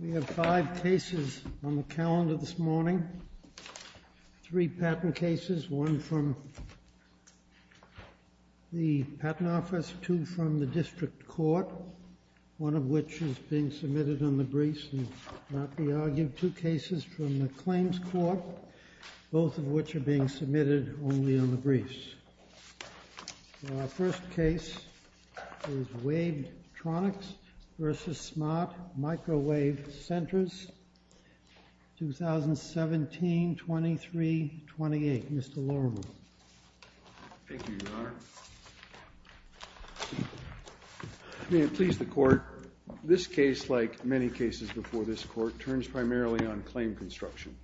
We have five cases on the calendar this morning, three patent cases, one from the Patent Office, two from the District Court, one of which is being submitted on the briefs and not be argued, two cases from the Claims Court, both of which are being submitted only on the briefs. Our first case is Wavetronix v. Smart Microwave Sensors, 2017-23-28. Mr. Lorimer. Thank you, Your Honor. May it please the Court, this case, like many cases before this Court, turns primarily on claim construction.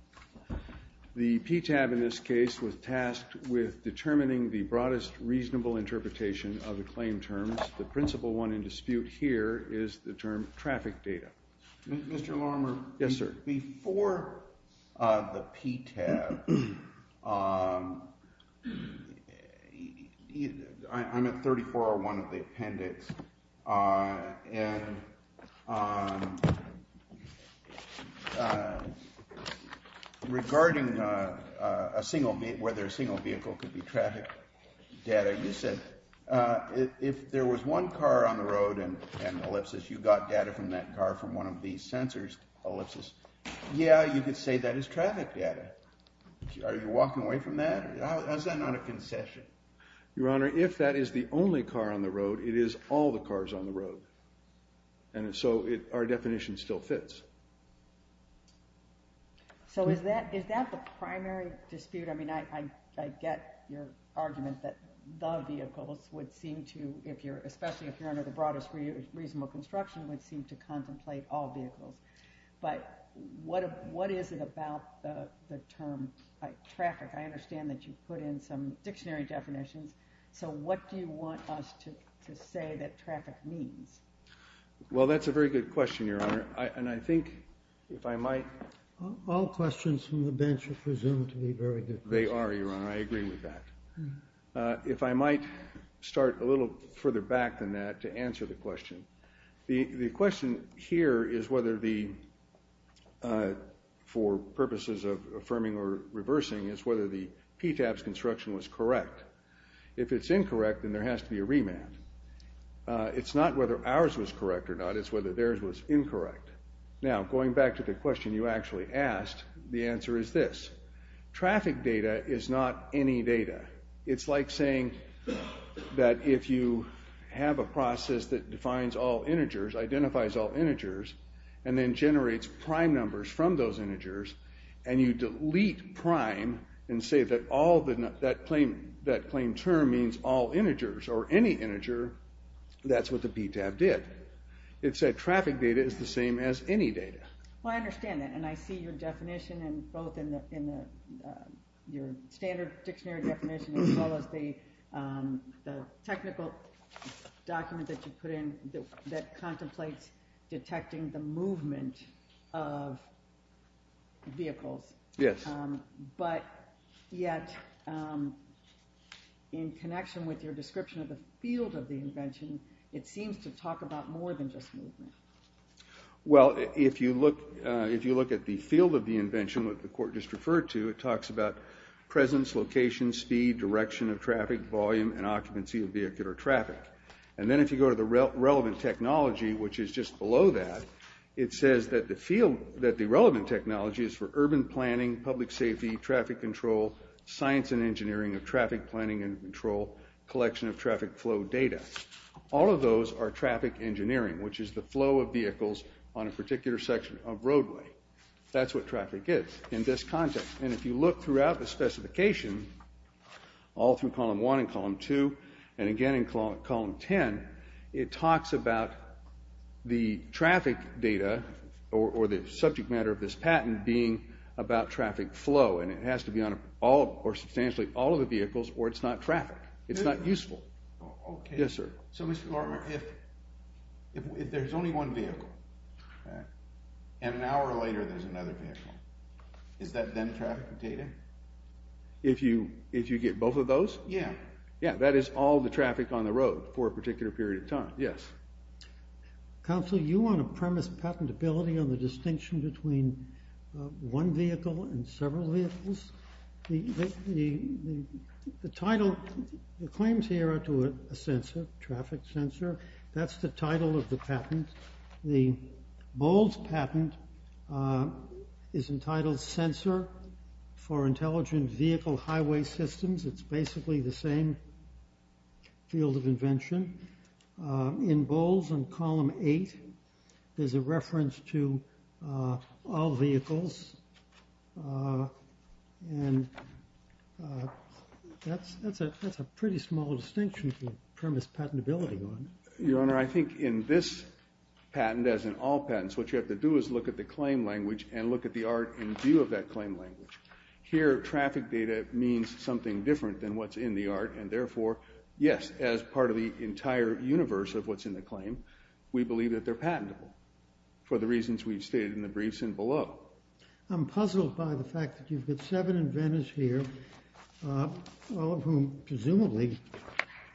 The PTAB in this case was tasked with determining the broadest reasonable interpretation of the claim terms. The principal one in dispute here is the term traffic data. Mr. Lorimer. Yes, sir. Before the PTAB, I'm at 3401 of the appendix, and regarding whether a single vehicle could be traffic data, you said if there was one car on the road and ellipses, you got data from that car from one of these sensors, ellipses. Yeah, you could say that is traffic data. Are you walking away from that? How is that not a concession? Your Honor, if that is the only car on the road, it is all the cars on the road, and so our definition still fits. So is that the primary dispute? I mean, I get your argument that the vehicles would seem to, especially if you're under the broadest reasonable construction, would seem to contemplate all vehicles, but what is it about the term traffic? I understand that you put in some dictionary definitions, so what do you want us to say that traffic means? Well, that's a very good question, Your Honor, and I think if I might... All questions from the bench are presumed to be very good questions. They are, Your Honor, I agree with that. If I might start a little further back than that to answer the question. The question here is whether the, for purposes of affirming or reversing, is whether the PTAB's construction was correct. If it's incorrect, then there has to be a remand. It's not whether ours was correct or not, it's whether theirs was incorrect. Now, going back to the question you actually asked, the answer is this. Traffic data is not any data. It's like saying that if you have a process that defines all integers, identifies all integers, and then generates prime numbers from those integers, and you delete prime and say that all, that claim term means all integers or any integer, that's what the PTAB did. It said traffic data is the same as any data. Well, I understand that, and I see your definition both in your standard dictionary definition as well as the technical document that you put in that contemplates detecting the movement of vehicles. Yes. But yet, in connection with your description of the field of the invention, it seems to talk about more than just movement. Well, if you look at the field of the invention, what the court just referred to, it talks about presence, location, speed, direction of traffic, volume, and occupancy of vehicular traffic. And then if you go to the relevant technology, which is just below that, it says that the relevant technology is for urban planning, public safety, traffic control, science and engineering of traffic planning and control, collection of traffic flow data. All of those are traffic engineering, which is the flow of vehicles on a particular section of roadway. That's what traffic is in this context. And if you look throughout the specification, all through Column 1 and Column 2, and again in Column 10, it talks about the traffic data or the subject matter of this patent being about traffic flow, and it has to be on all or substantially all of the vehicles or it's not traffic. It's not useful. OK. Yes, sir. So Mr. Larimer, if there's only one vehicle and an hour later there's another vehicle, is that then traffic data? If you get both of those? Yeah. Yeah, that is all the traffic on the road for a particular period of time. Yes. Counsel, you want to premise patentability on the distinction between one vehicle and several vehicles? The title, the claims here are to a sensor, traffic sensor. That's the title of the patent. The Bowles patent is entitled Sensor for Intelligent Vehicle Highway Systems. It's basically the same field of invention. In Bowles in Column 8, there's a reference to all vehicles, and that's a pretty small distinction to premise patentability on. Your Honor, I think in this patent, as in all patents, what you have to do is look at the claim language and look at the art in view of that claim language. Here, traffic data means something different than what's in the art, and therefore, yes, as part of the entire universe of what's in the claim, we believe that they're patentable for the reasons we've stated in the briefs and below. I'm puzzled by the fact that you've got seven inventors here, all of whom presumably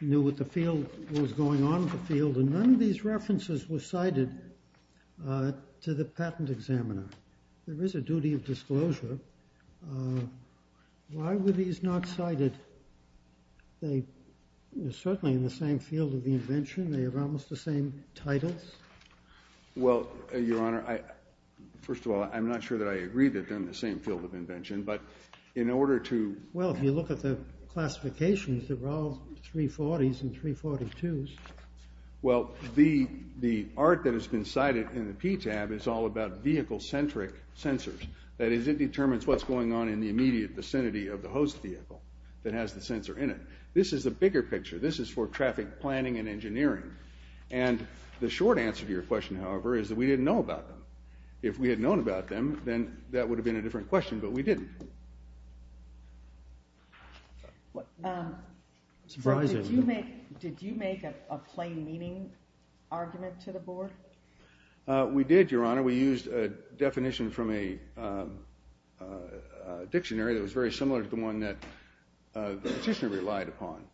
knew what was going on in the field, and none of these references were cited to the patent examiner. There is a duty of disclosure. Why were these not cited? They are certainly in the same field of invention. They have almost the same titles. Well, Your Honor, first of all, I'm not sure that I agree that they're in the same field of invention, but in order to— Well, if you look at the classifications, they're all 340s and 342s. Well, the art that has been cited in the PTAB is all about vehicle-centric sensors. That is, it determines what's going on in the immediate vicinity of the host vehicle that has the sensor in it. This is a bigger picture. This is for traffic planning and engineering. And the short answer to your question, however, is that we didn't know about them. If we had known about them, then that would have been a different question, but we didn't. Did you make a plain meaning argument to the board? We did, Your Honor. We used a definition from a dictionary that was very similar to the one that the petitioner relied upon.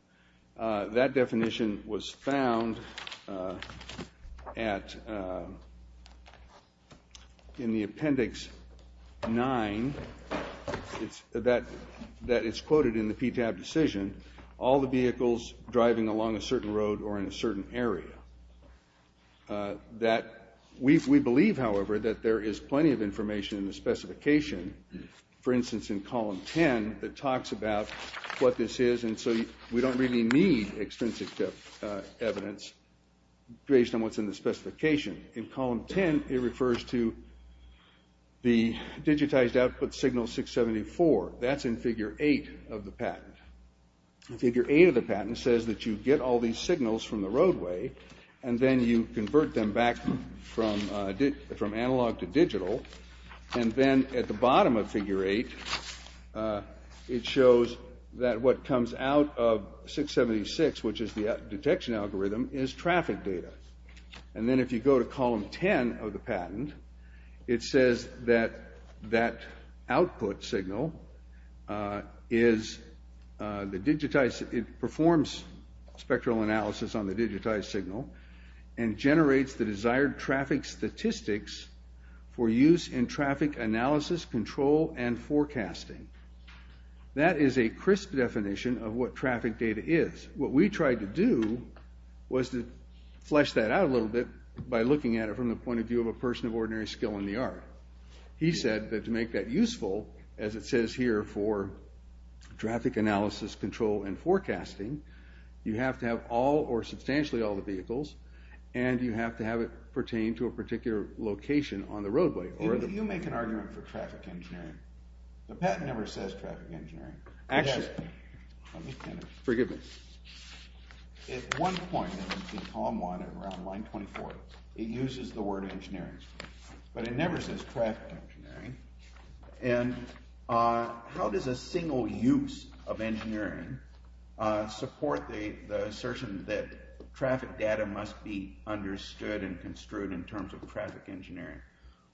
That definition was found in the Appendix 9 that is quoted in the PTAB decision, all the vehicles driving along a certain road or in a certain area. We believe, however, that there is plenty of information in the specification, for instance, in Column 10, that talks about what this is. And so we don't really need extrinsic evidence based on what's in the specification. In Column 10, it refers to the digitized output signal 674. That's in Figure 8 of the patent. Figure 8 of the patent says that you get all these signals from the roadway, and then you convert them back from analog to digital. And then at the bottom of Figure 8, it shows that what comes out of 676, which is the detection algorithm, is traffic data. And then if you go to Column 10 of the patent, it says that that output signal is the digitized. It performs spectral analysis on the digitized signal and generates the desired traffic statistics for use in traffic analysis, control, and forecasting. That is a crisp definition of what traffic data is. What we tried to do was to flesh that out a little bit by looking at it from the point of view of a person of ordinary skill in the art. He said that to make that useful, as it says here for traffic analysis, control, and forecasting, you have to have all or substantially all the vehicles, and you have to have it pertain to a particular location on the roadway. You make an argument for traffic engineering. The patent never says traffic engineering. Actually, forgive me. At one point in Column 1, around line 24, it uses the word engineering, but it never says traffic engineering. And how does a single use of engineering support the assertion that traffic data must be understood and construed in terms of traffic engineering?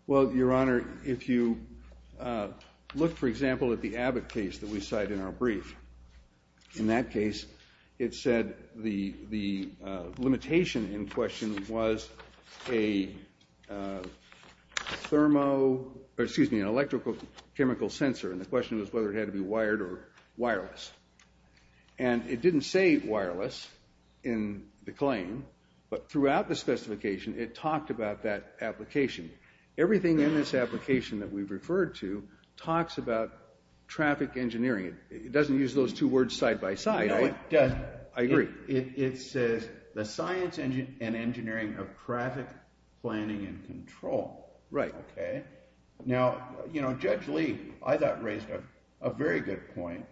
Well, Your Honor, if you look, for example, at the Abbott case that we cite in our brief, in that case, it said the limitation in question was an electrical chemical sensor, and the question was whether it had to be wired or wireless. And it didn't say wireless in the claim, but throughout the specification, it talked about that application. Everything in this application that we've referred to talks about traffic engineering. It doesn't use those two words side by side. No, it doesn't. I agree. It says the science and engineering of traffic planning and control. Right. Okay. Now, Judge Lee, I thought raised a very good point,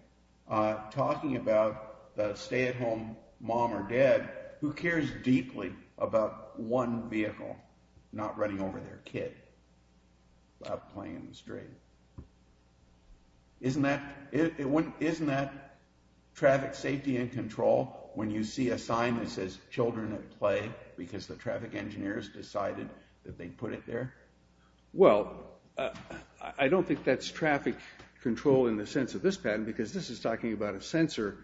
talking about the stay-at-home mom or dad who cares deeply about one vehicle not running over their kid while playing in the street. Isn't that traffic safety and control when you see a sign that says children at play because the traffic engineers decided that they put it there? Well, I don't think that's traffic control in the sense of this patent, because this is talking about a sensor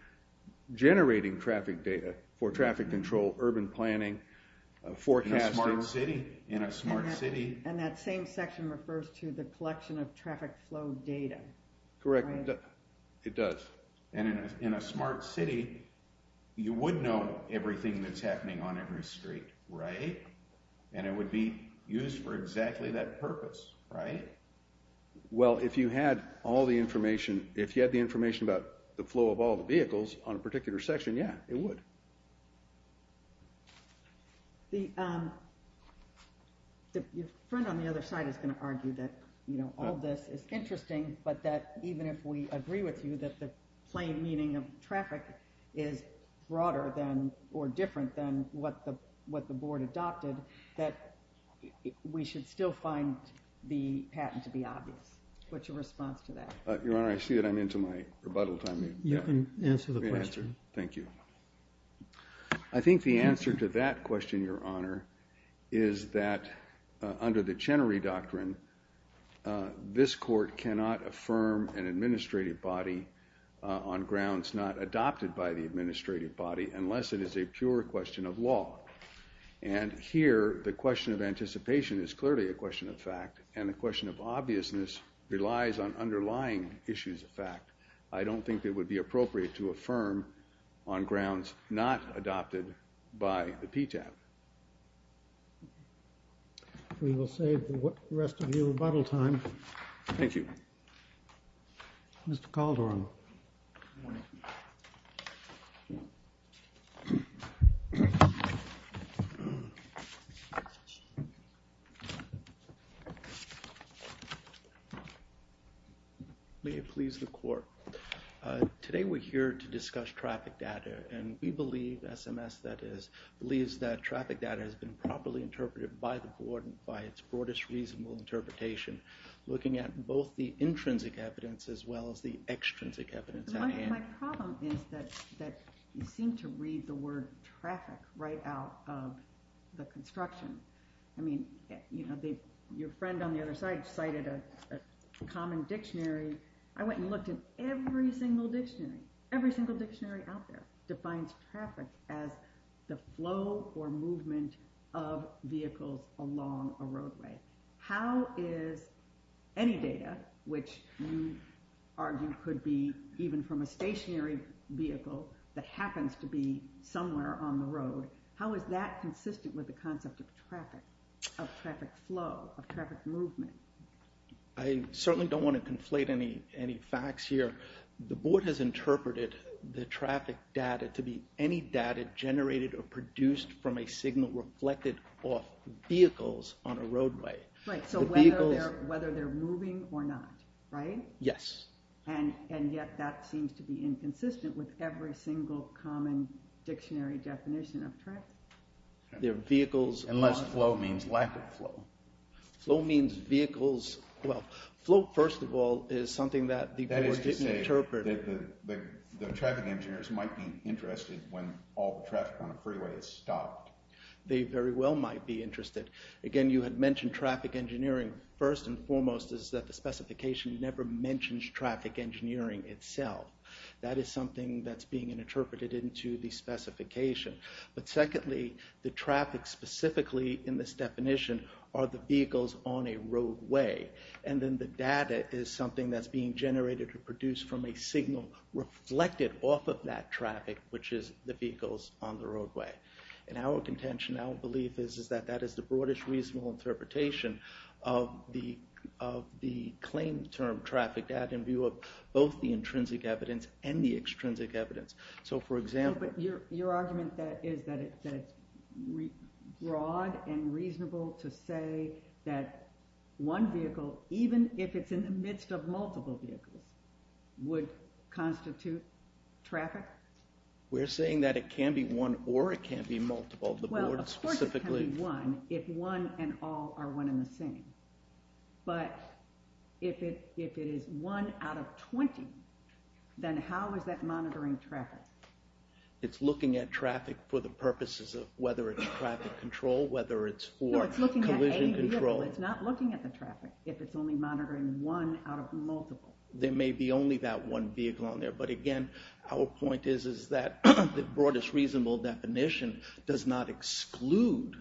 generating traffic data for traffic control, urban planning, forecasting. In a smart city. In a smart city. And that same section refers to the collection of traffic flow data. Correct. It does. And in a smart city, you would know everything that's happening on every street, right? And it would be used for exactly that purpose, right? Well, if you had all the information, if you had the information about the flow of all the vehicles on a particular section, yeah, it would. Your friend on the other side is going to argue that all this is interesting, but that even if we agree with you that the plain meaning of traffic is broader than or different than what the board adopted, that we should still find the patent to be obvious. What's your response to that? Your Honor, I see that I'm into my rebuttal time. You can answer the question. Thank you. I think the answer to that question, Your Honor, is that under the Chenery Doctrine, this court cannot affirm an administrative body on grounds not adopted by the administrative body unless it is a pure question of law. And here, the question of anticipation is clearly a question of fact, and the question of obviousness relies on underlying issues of fact. I don't think it would be appropriate to affirm on grounds not adopted by the PTAP. We will save the rest of your rebuttal time. Thank you. Mr. Calderon. Good morning. May it please the court. My problem is that you seem to read the word traffic right out of the construction. I mean, your friend on the other side cited a common dictionary. I went and looked at every single dictionary, every single dictionary out there defines traffic as the flow or movement of vehicles along a roadway. How is any data, which you argue could be even from a stationary vehicle that happens to be somewhere on the road, how is that consistent with the concept of traffic, of traffic flow, of traffic movement? I certainly don't want to conflate any facts here. The board has interpreted the traffic data to be any data generated or produced from a signal reflected off vehicles on a roadway. Right, so whether they're moving or not, right? Yes. And yet that seems to be inconsistent with every single common dictionary definition of traffic. Unless flow means lack of flow. Flow means vehicles, well, flow, first of all, is something that the board didn't interpret. That is to say that the traffic engineers might be interested when all the traffic on a freeway is stopped. They very well might be interested. Again, you had mentioned traffic engineering. First and foremost is that the specification never mentions traffic engineering itself. That is something that's being interpreted into the specification. But secondly, the traffic specifically in this definition are the vehicles on a roadway. And then the data is something that's being generated or produced from a signal reflected off of that traffic, which is the vehicles on the roadway. And our contention, our belief is that that is the broadest reasonable interpretation of the claim term traffic data in view of both the intrinsic evidence and the extrinsic evidence. But your argument is that it's broad and reasonable to say that one vehicle, even if it's in the midst of multiple vehicles, would constitute traffic? We're saying that it can be one or it can be multiple. Well, of course it can be one if one and all are one and the same. But if it is one out of 20, then how is that monitoring traffic? It's looking at traffic for the purposes of whether it's traffic control, whether it's for collision control. No, it's looking at any vehicle. It's not looking at the traffic if it's only monitoring one out of multiple. There may be only that one vehicle on there. But again, our point is that the broadest reasonable definition does not exclude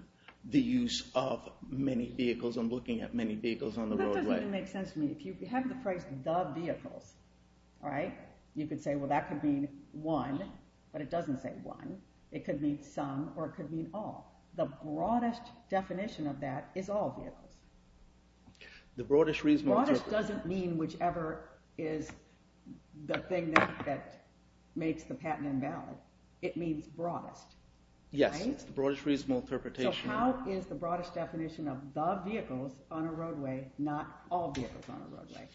the use of many vehicles. I'm looking at many vehicles on the roadway. That doesn't even make sense to me. If you have the phrase the vehicles, you could say that could mean one, but it doesn't say one. It could mean some or it could mean all. The broadest definition of that is all vehicles. The broadest reasonable... Broadest doesn't mean whichever is the thing that makes the patent invalid. It means broadest. Yes, it's the broadest reasonable interpretation. So how is the broadest definition of the vehicles on a roadway, not all vehicles on a roadway?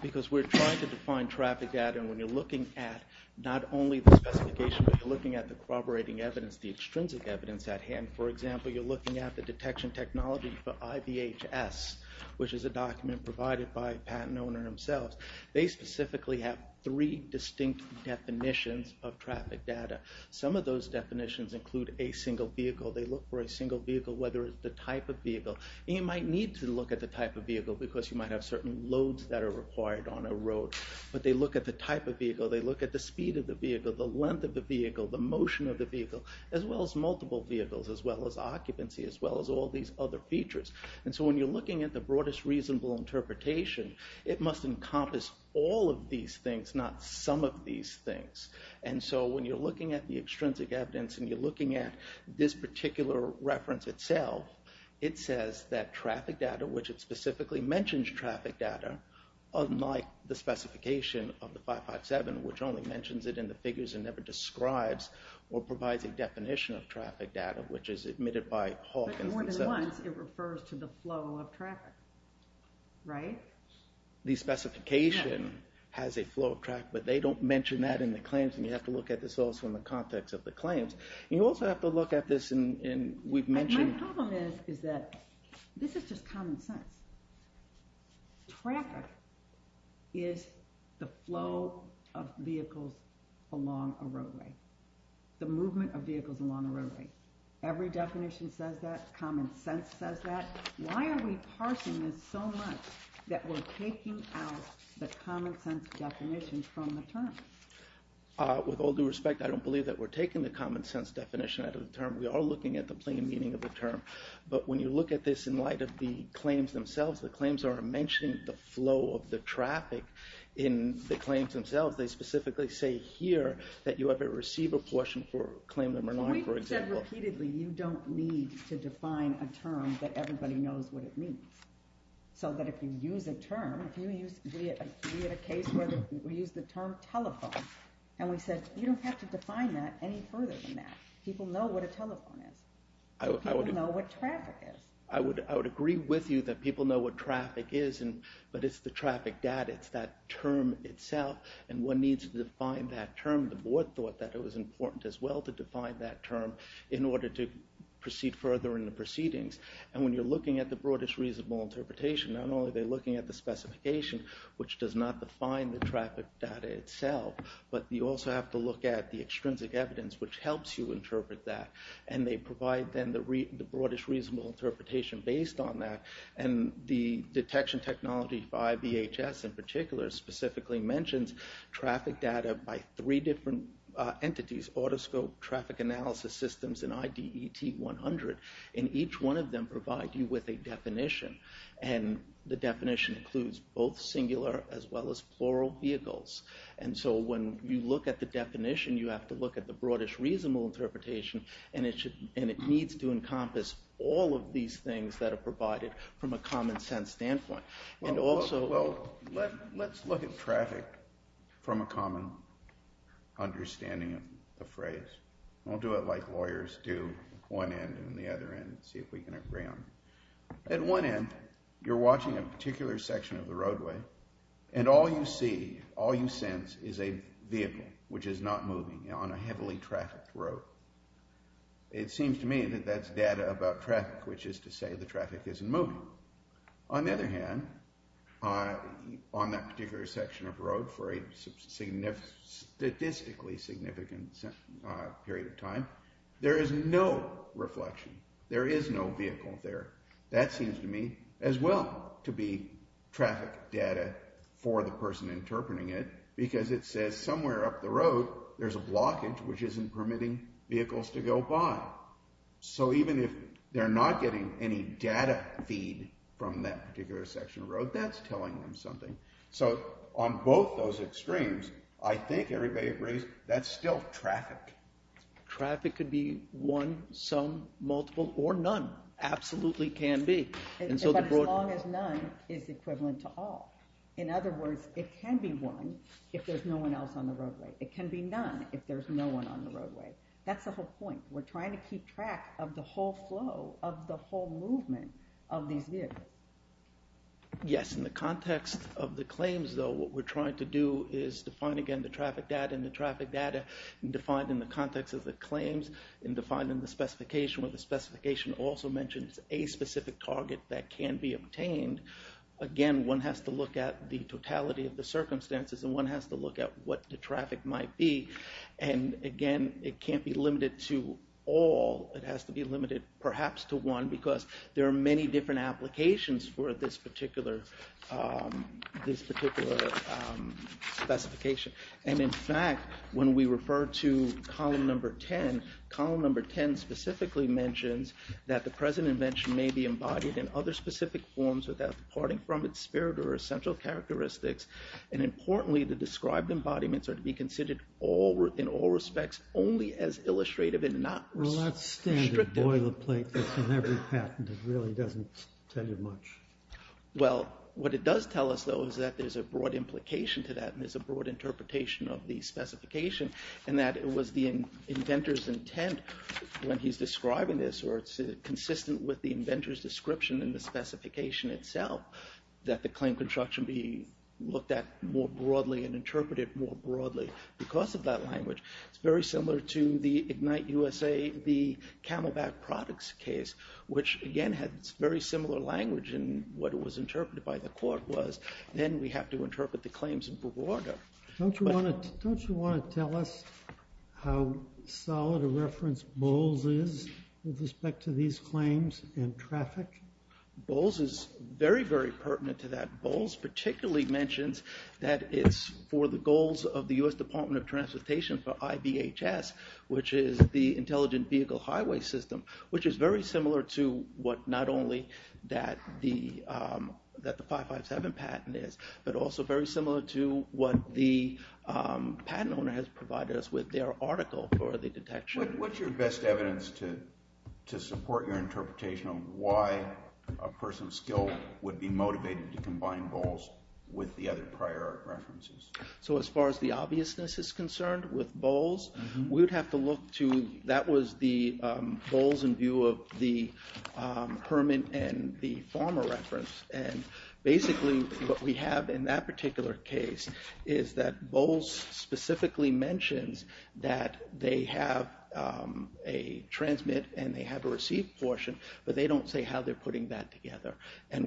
Because we're trying to define traffic data and when you're looking at not only the specification, but you're looking at the corroborating evidence, the extrinsic evidence at hand. For example, you're looking at the detection technology for IVHS, which is a document provided by a patent owner themselves. They specifically have three distinct definitions of traffic data. Some of those definitions include a single vehicle. They look for a single vehicle, whether it's the type of vehicle. You might need to look at the type of vehicle because you might have certain loads that are required on a road. But they look at the type of vehicle. They look at the speed of the vehicle, the length of the vehicle, the motion of the vehicle, as well as multiple vehicles, as well as occupancy, as well as all these other features. And so when you're looking at the broadest reasonable interpretation, it must encompass all of these things, not some of these things. And so when you're looking at the extrinsic evidence and you're looking at this particular reference itself, it says that traffic data, which it specifically mentions traffic data, unlike the specification of the 557, which only mentions it in the figures and never describes or provides a definition of traffic data, which is admitted by Hawkins. But more than once, it refers to the flow of traffic, right? The specification has a flow of traffic, but they don't mention that in the claims. And you have to look at this also in the context of the claims. And you also have to look at this, and we've mentioned... My problem is that this is just common sense. Traffic is the flow of vehicles along a roadway, the movement of vehicles along a roadway. Every definition says that. Common sense says that. Why are we parsing this so much that we're taking out the common sense definition from the term? With all due respect, I don't believe that we're taking the common sense definition out of the term. We are looking at the plain meaning of the term. But when you look at this in light of the claims themselves, the claims are mentioning the flow of the traffic in the claims themselves. They specifically say here that you have a receiver portion for claim number 9, for example. We've said repeatedly you don't need to define a term that everybody knows what it means. So that if you use a term, if you use... We had a case where we used the term telephone. And we said you don't have to define that any further than that. People know what a telephone is. People know what traffic is. I would agree with you that people know what traffic is, but it's the traffic data. It's that term itself. And one needs to define that term. The board thought that it was important as well to define that term in order to proceed further in the proceedings. And when you're looking at the broadest reasonable interpretation, not only are they looking at the specification, which does not define the traffic data itself, but you also have to look at the extrinsic evidence, which helps you interpret that. And they provide then the broadest reasonable interpretation based on that. And the detection technology by VHS in particular specifically mentions traffic data by three different entities, Autoscope, Traffic Analysis Systems, and IDET-100. And each one of them provide you with a definition. And the definition includes both singular as well as plural vehicles. And so when you look at the definition, you have to look at the broadest reasonable interpretation, and it needs to encompass all of these things that are provided from a common sense standpoint. Well, let's look at traffic from a common understanding of the phrase. I'll do it like lawyers do, one end and the other end, see if we can agree on it. At one end, you're watching a particular section of the roadway, and all you see, all you sense is a vehicle which is not moving on a heavily trafficked road. It seems to me that that's data about traffic, which is to say the traffic isn't moving. On the other hand, on that particular section of road for a statistically significant period of time, there is no reflection, there is no vehicle there. That seems to me as well to be traffic data for the person interpreting it, because it says somewhere up the road there's a blockage which isn't permitting vehicles to go by. So even if they're not getting any data feed from that particular section of road, that's telling them something. So on both those extremes, I think everybody agrees that's still traffic. Traffic could be one, some, multiple, or none. Absolutely can be. But as long as none is equivalent to all. In other words, it can be one if there's no one else on the roadway. It can be none if there's no one on the roadway. That's the whole point. We're trying to keep track of the whole flow, of the whole movement of these vehicles. Yes, in the context of the claims, though, what we're trying to do is define again the traffic data and define in the context of the claims and define in the specification, where the specification also mentions a specific target that can be obtained. Again, one has to look at the totality of the circumstances and one has to look at what the traffic might be. And again, it can't be limited to all, it has to be limited perhaps to one, because there are many different applications for this particular specification. And in fact, when we refer to column number 10, column number 10 specifically mentions that the present invention may be embodied in other specific forms without departing from its spirit or essential characteristics. And importantly, the described embodiments are to be considered in all respects only as illustrative and not restrictive. Well, that's standard boilerplate that's in every patent. It really doesn't tell you much. Well, what it does tell us, though, is that there's a broad implication to that and there's a broad interpretation of the specification and that it was the inventor's intent when he's describing this or it's consistent with the inventor's description in the specification itself that the claim construction be looked at more broadly and interpreted more broadly because of that language. It's very similar to the Ignite USA, the Camelback products case, which again had very similar language in what it was interpreted by the court was. Then we have to interpret the claims in broader. Don't you want to tell us how solid a reference Bowles is with respect to these claims in traffic? Bowles is very, very pertinent to that. Bowles particularly mentions that it's for the goals of the US Department of Transportation for IBHS, which is the Intelligent Vehicle Highway System, which is very similar to what not only that the 557 patent is, but also very similar to what the patent owner has provided us with their article for the detection. What's your best evidence to support your interpretation of why a person of skill would be motivated to combine Bowles with the other prior references? As far as the obviousness is concerned with Bowles, that was the Bowles in view of the Herman and the Farmer reference. Basically, what we have in that particular case is that Bowles specifically mentions that they have a transmit and they have a receive portion, but they don't say how they're putting that together.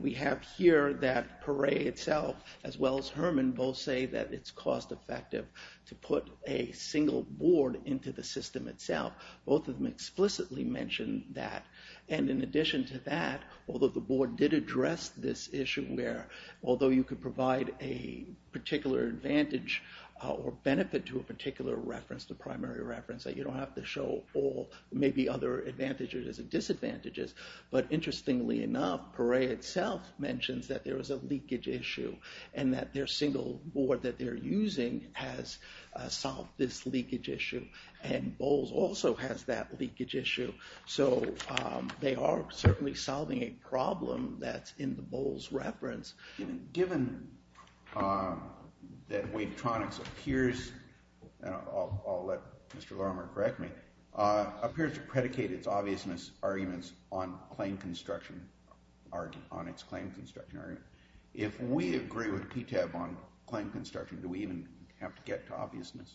We have here that Paré itself, as well as Herman, both say that it's cost effective to put a single board into the system itself. Both of them explicitly mention that. In addition to that, although the board did address this issue where although you could provide a particular advantage or benefit to a particular reference, the primary reference, that you don't have to show all, maybe other advantages and disadvantages. But interestingly enough, Paré itself mentions that there is a leakage issue and that their single board that they're using has solved this leakage issue. And Bowles also has that leakage issue. So they are certainly solving a problem that's in the Bowles reference. Given that Wavetronics appears, and I'll let Mr. Lorimer correct me, appears to predicate its obviousness arguments on claim construction, if we agree with PTAB on claim construction, do we even have to get to obviousness?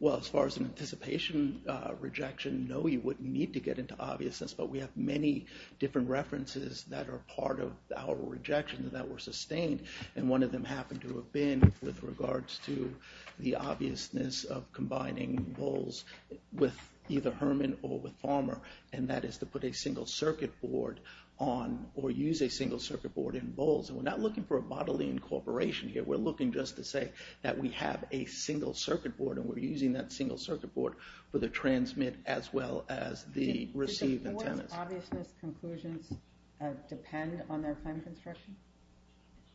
Well, as far as an anticipation rejection, no, you wouldn't need to get into obviousness, but we have many different references that are part of our rejection that were sustained. And one of them happened to have been with regards to the obviousness of combining Bowles with either Herman or with Farmer. And that is to put a single circuit board on or use a single circuit board in Bowles. And we're not looking for a bodily incorporation here. We're looking just to say that we have a single circuit board and we're using that single circuit board for the transmit as well as the receive and transmit. Does obviousness conclusions depend on their claim construction?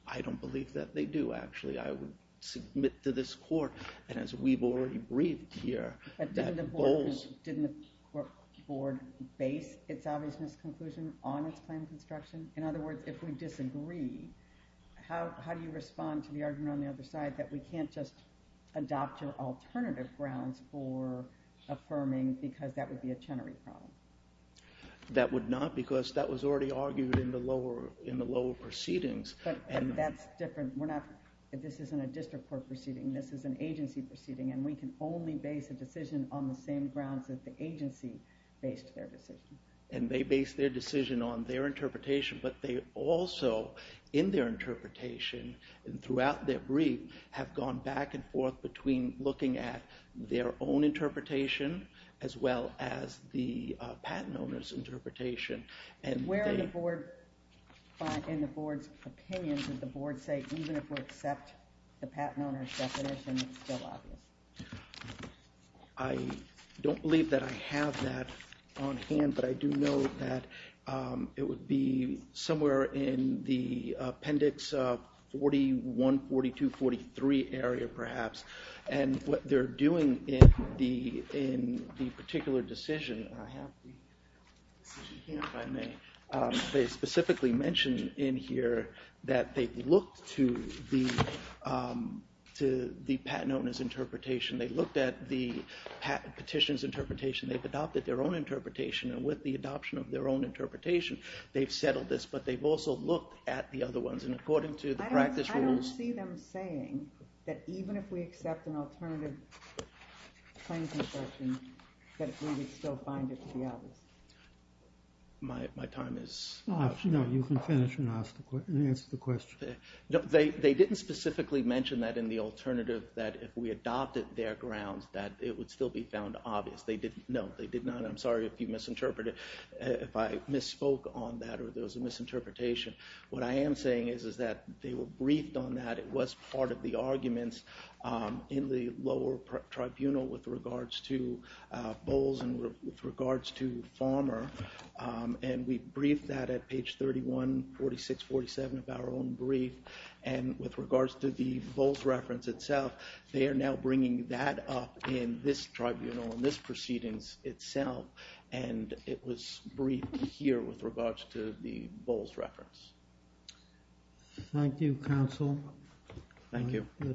I don't believe that they do, actually. I would submit to this court, and as we've already breathed here, that Bowles... But didn't the board base its obviousness conclusion on its claim construction? In other words, if we disagree, how do you respond to the argument on the other side that we can't just adopt your alternative grounds for affirming because that would be a Chenery problem? That would not because that was already argued in the lower proceedings. But that's different. We're not... This isn't a district court proceeding. This is an agency proceeding, and we can only base a decision on the same grounds that the agency based their decision. And they based their decision on their interpretation, but they also, in their interpretation and throughout their brief, have gone back and forth between looking at their own interpretation as well as the patent owner's interpretation. Where in the board's opinion did the board say even if we accept the patent owner's definition, it's still obvious? I don't believe that I have that on hand, but I do know that it would be somewhere in the appendix 41, 42, 43 area perhaps. And what they're doing in the particular decision, if I may, they specifically mention in here that they've looked to the patent owner's interpretation. They looked at the petition's interpretation. They've adopted their own interpretation, and with the adoption of their own interpretation, they've settled this. But they've also looked at the other ones, and according to the practice rules... They didn't specifically mention that in the alternative, that if we adopted their grounds, that it would still be found obvious. No, they did not. I'm sorry if you misinterpreted, if I misspoke on that or there was a misinterpretation. What I am saying is that they were briefed on that. It was part of the arguments in the lower tribunal with regards to Bowles and with regards to Farmer. And we briefed that at page 31, 46, 47 of our own brief. And with regards to the Bowles reference itself, they are now bringing that up in this tribunal, in this proceedings itself. And it was briefed here with regards to the Bowles reference. Thank you, counsel. Thank you. I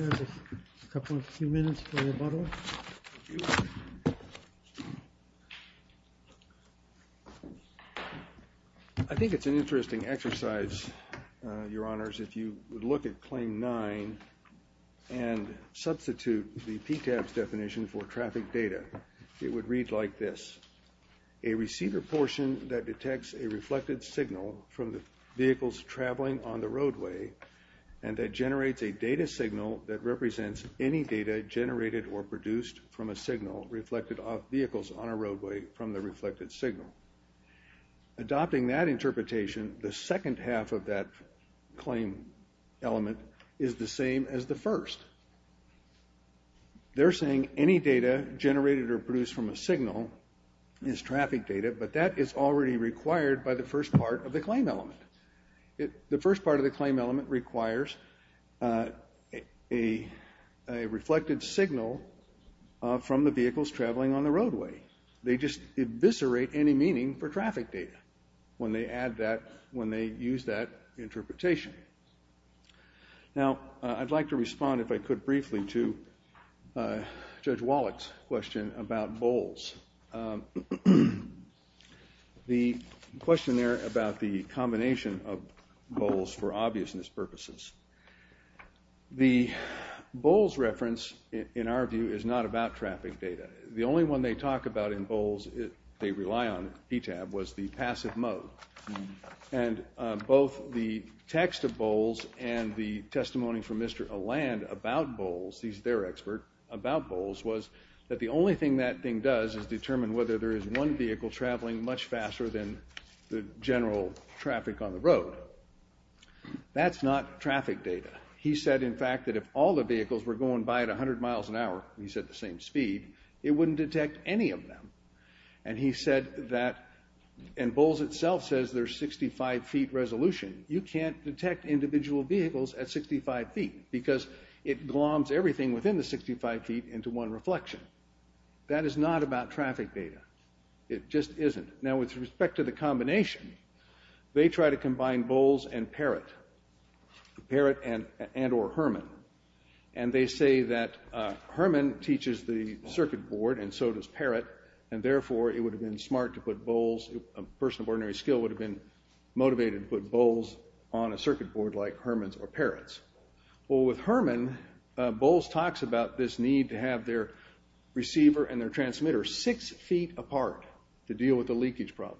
have a couple of minutes for rebuttal. Thank you. I think it's an interesting exercise, your honors, if you would look at claim 9 and substitute the PTAB's definition for traffic data. It would read like this. A receiver portion that detects a reflected signal from the vehicles traveling on the roadway and that generates a data signal that represents any data generated or produced from a signal reflected off vehicles on a roadway from the reflected signal. Adopting that interpretation, the second half of that claim element is the same as the first. They're saying any data generated or produced from a signal is traffic data, but that is already required by the first part of the claim element. The first part of the claim element requires a reflected signal from the vehicles traveling on the roadway. They just eviscerate any meaning for traffic data when they add that, when they use that interpretation. Now, I'd like to respond, if I could, briefly to Judge Wallach's question about Bowles. The question there about the combination of Bowles for obviousness purposes. The Bowles reference, in our view, is not about traffic data. The only one they talk about in Bowles they rely on, PTAB, was the passive mode. And both the text of Bowles and the testimony from Mr. Alland about Bowles, he's their expert about Bowles, was that the only thing that thing does is determine whether there is one vehicle traveling much faster than the general traffic on the road. That's not traffic data. He said, in fact, that if all the vehicles were going by at 100 miles an hour, he said the same speed, it wouldn't detect any of them. And he said that, and Bowles itself says there's 65 feet resolution. You can't detect individual vehicles at 65 feet because it gloms everything within the 65 feet into one reflection. That is not about traffic data. It just isn't. Now, with respect to the combination, they try to combine Bowles and Parrott, Parrott and or Herman. And they say that Herman teaches the circuit board and so does Parrott, and therefore it would have been smart to put Bowles, a person of ordinary skill would have been motivated to put Bowles on a circuit board like Herman's or Parrott's. Well, with Herman, Bowles talks about this need to have their receiver and their transmitter six feet apart to deal with the leakage problem.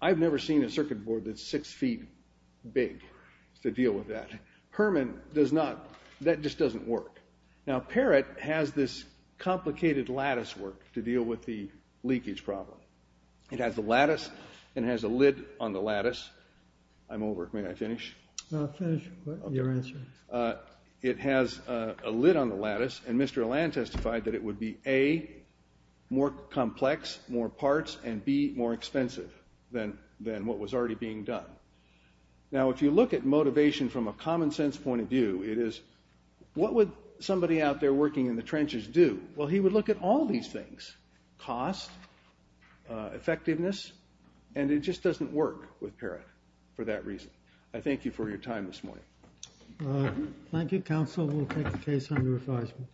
I've never seen a circuit board that's six feet big to deal with that. Herman does not. That just doesn't work. Now, Parrott has this complicated lattice work to deal with the leakage problem. It has a lattice and has a lid on the lattice. I'm over. May I finish? No, finish your answer. It has a lid on the lattice, and Mr. Alland testified that it would be, A, more complex, more parts, and, B, more expensive than what was already being done. Now, if you look at motivation from a common sense point of view, it is, what would somebody out there working in the trenches do? Well, he would look at all these things, cost, effectiveness, and it just doesn't work with Parrott for that reason. I thank you for your time this morning. Thank you, counsel. We'll take the case under advisement.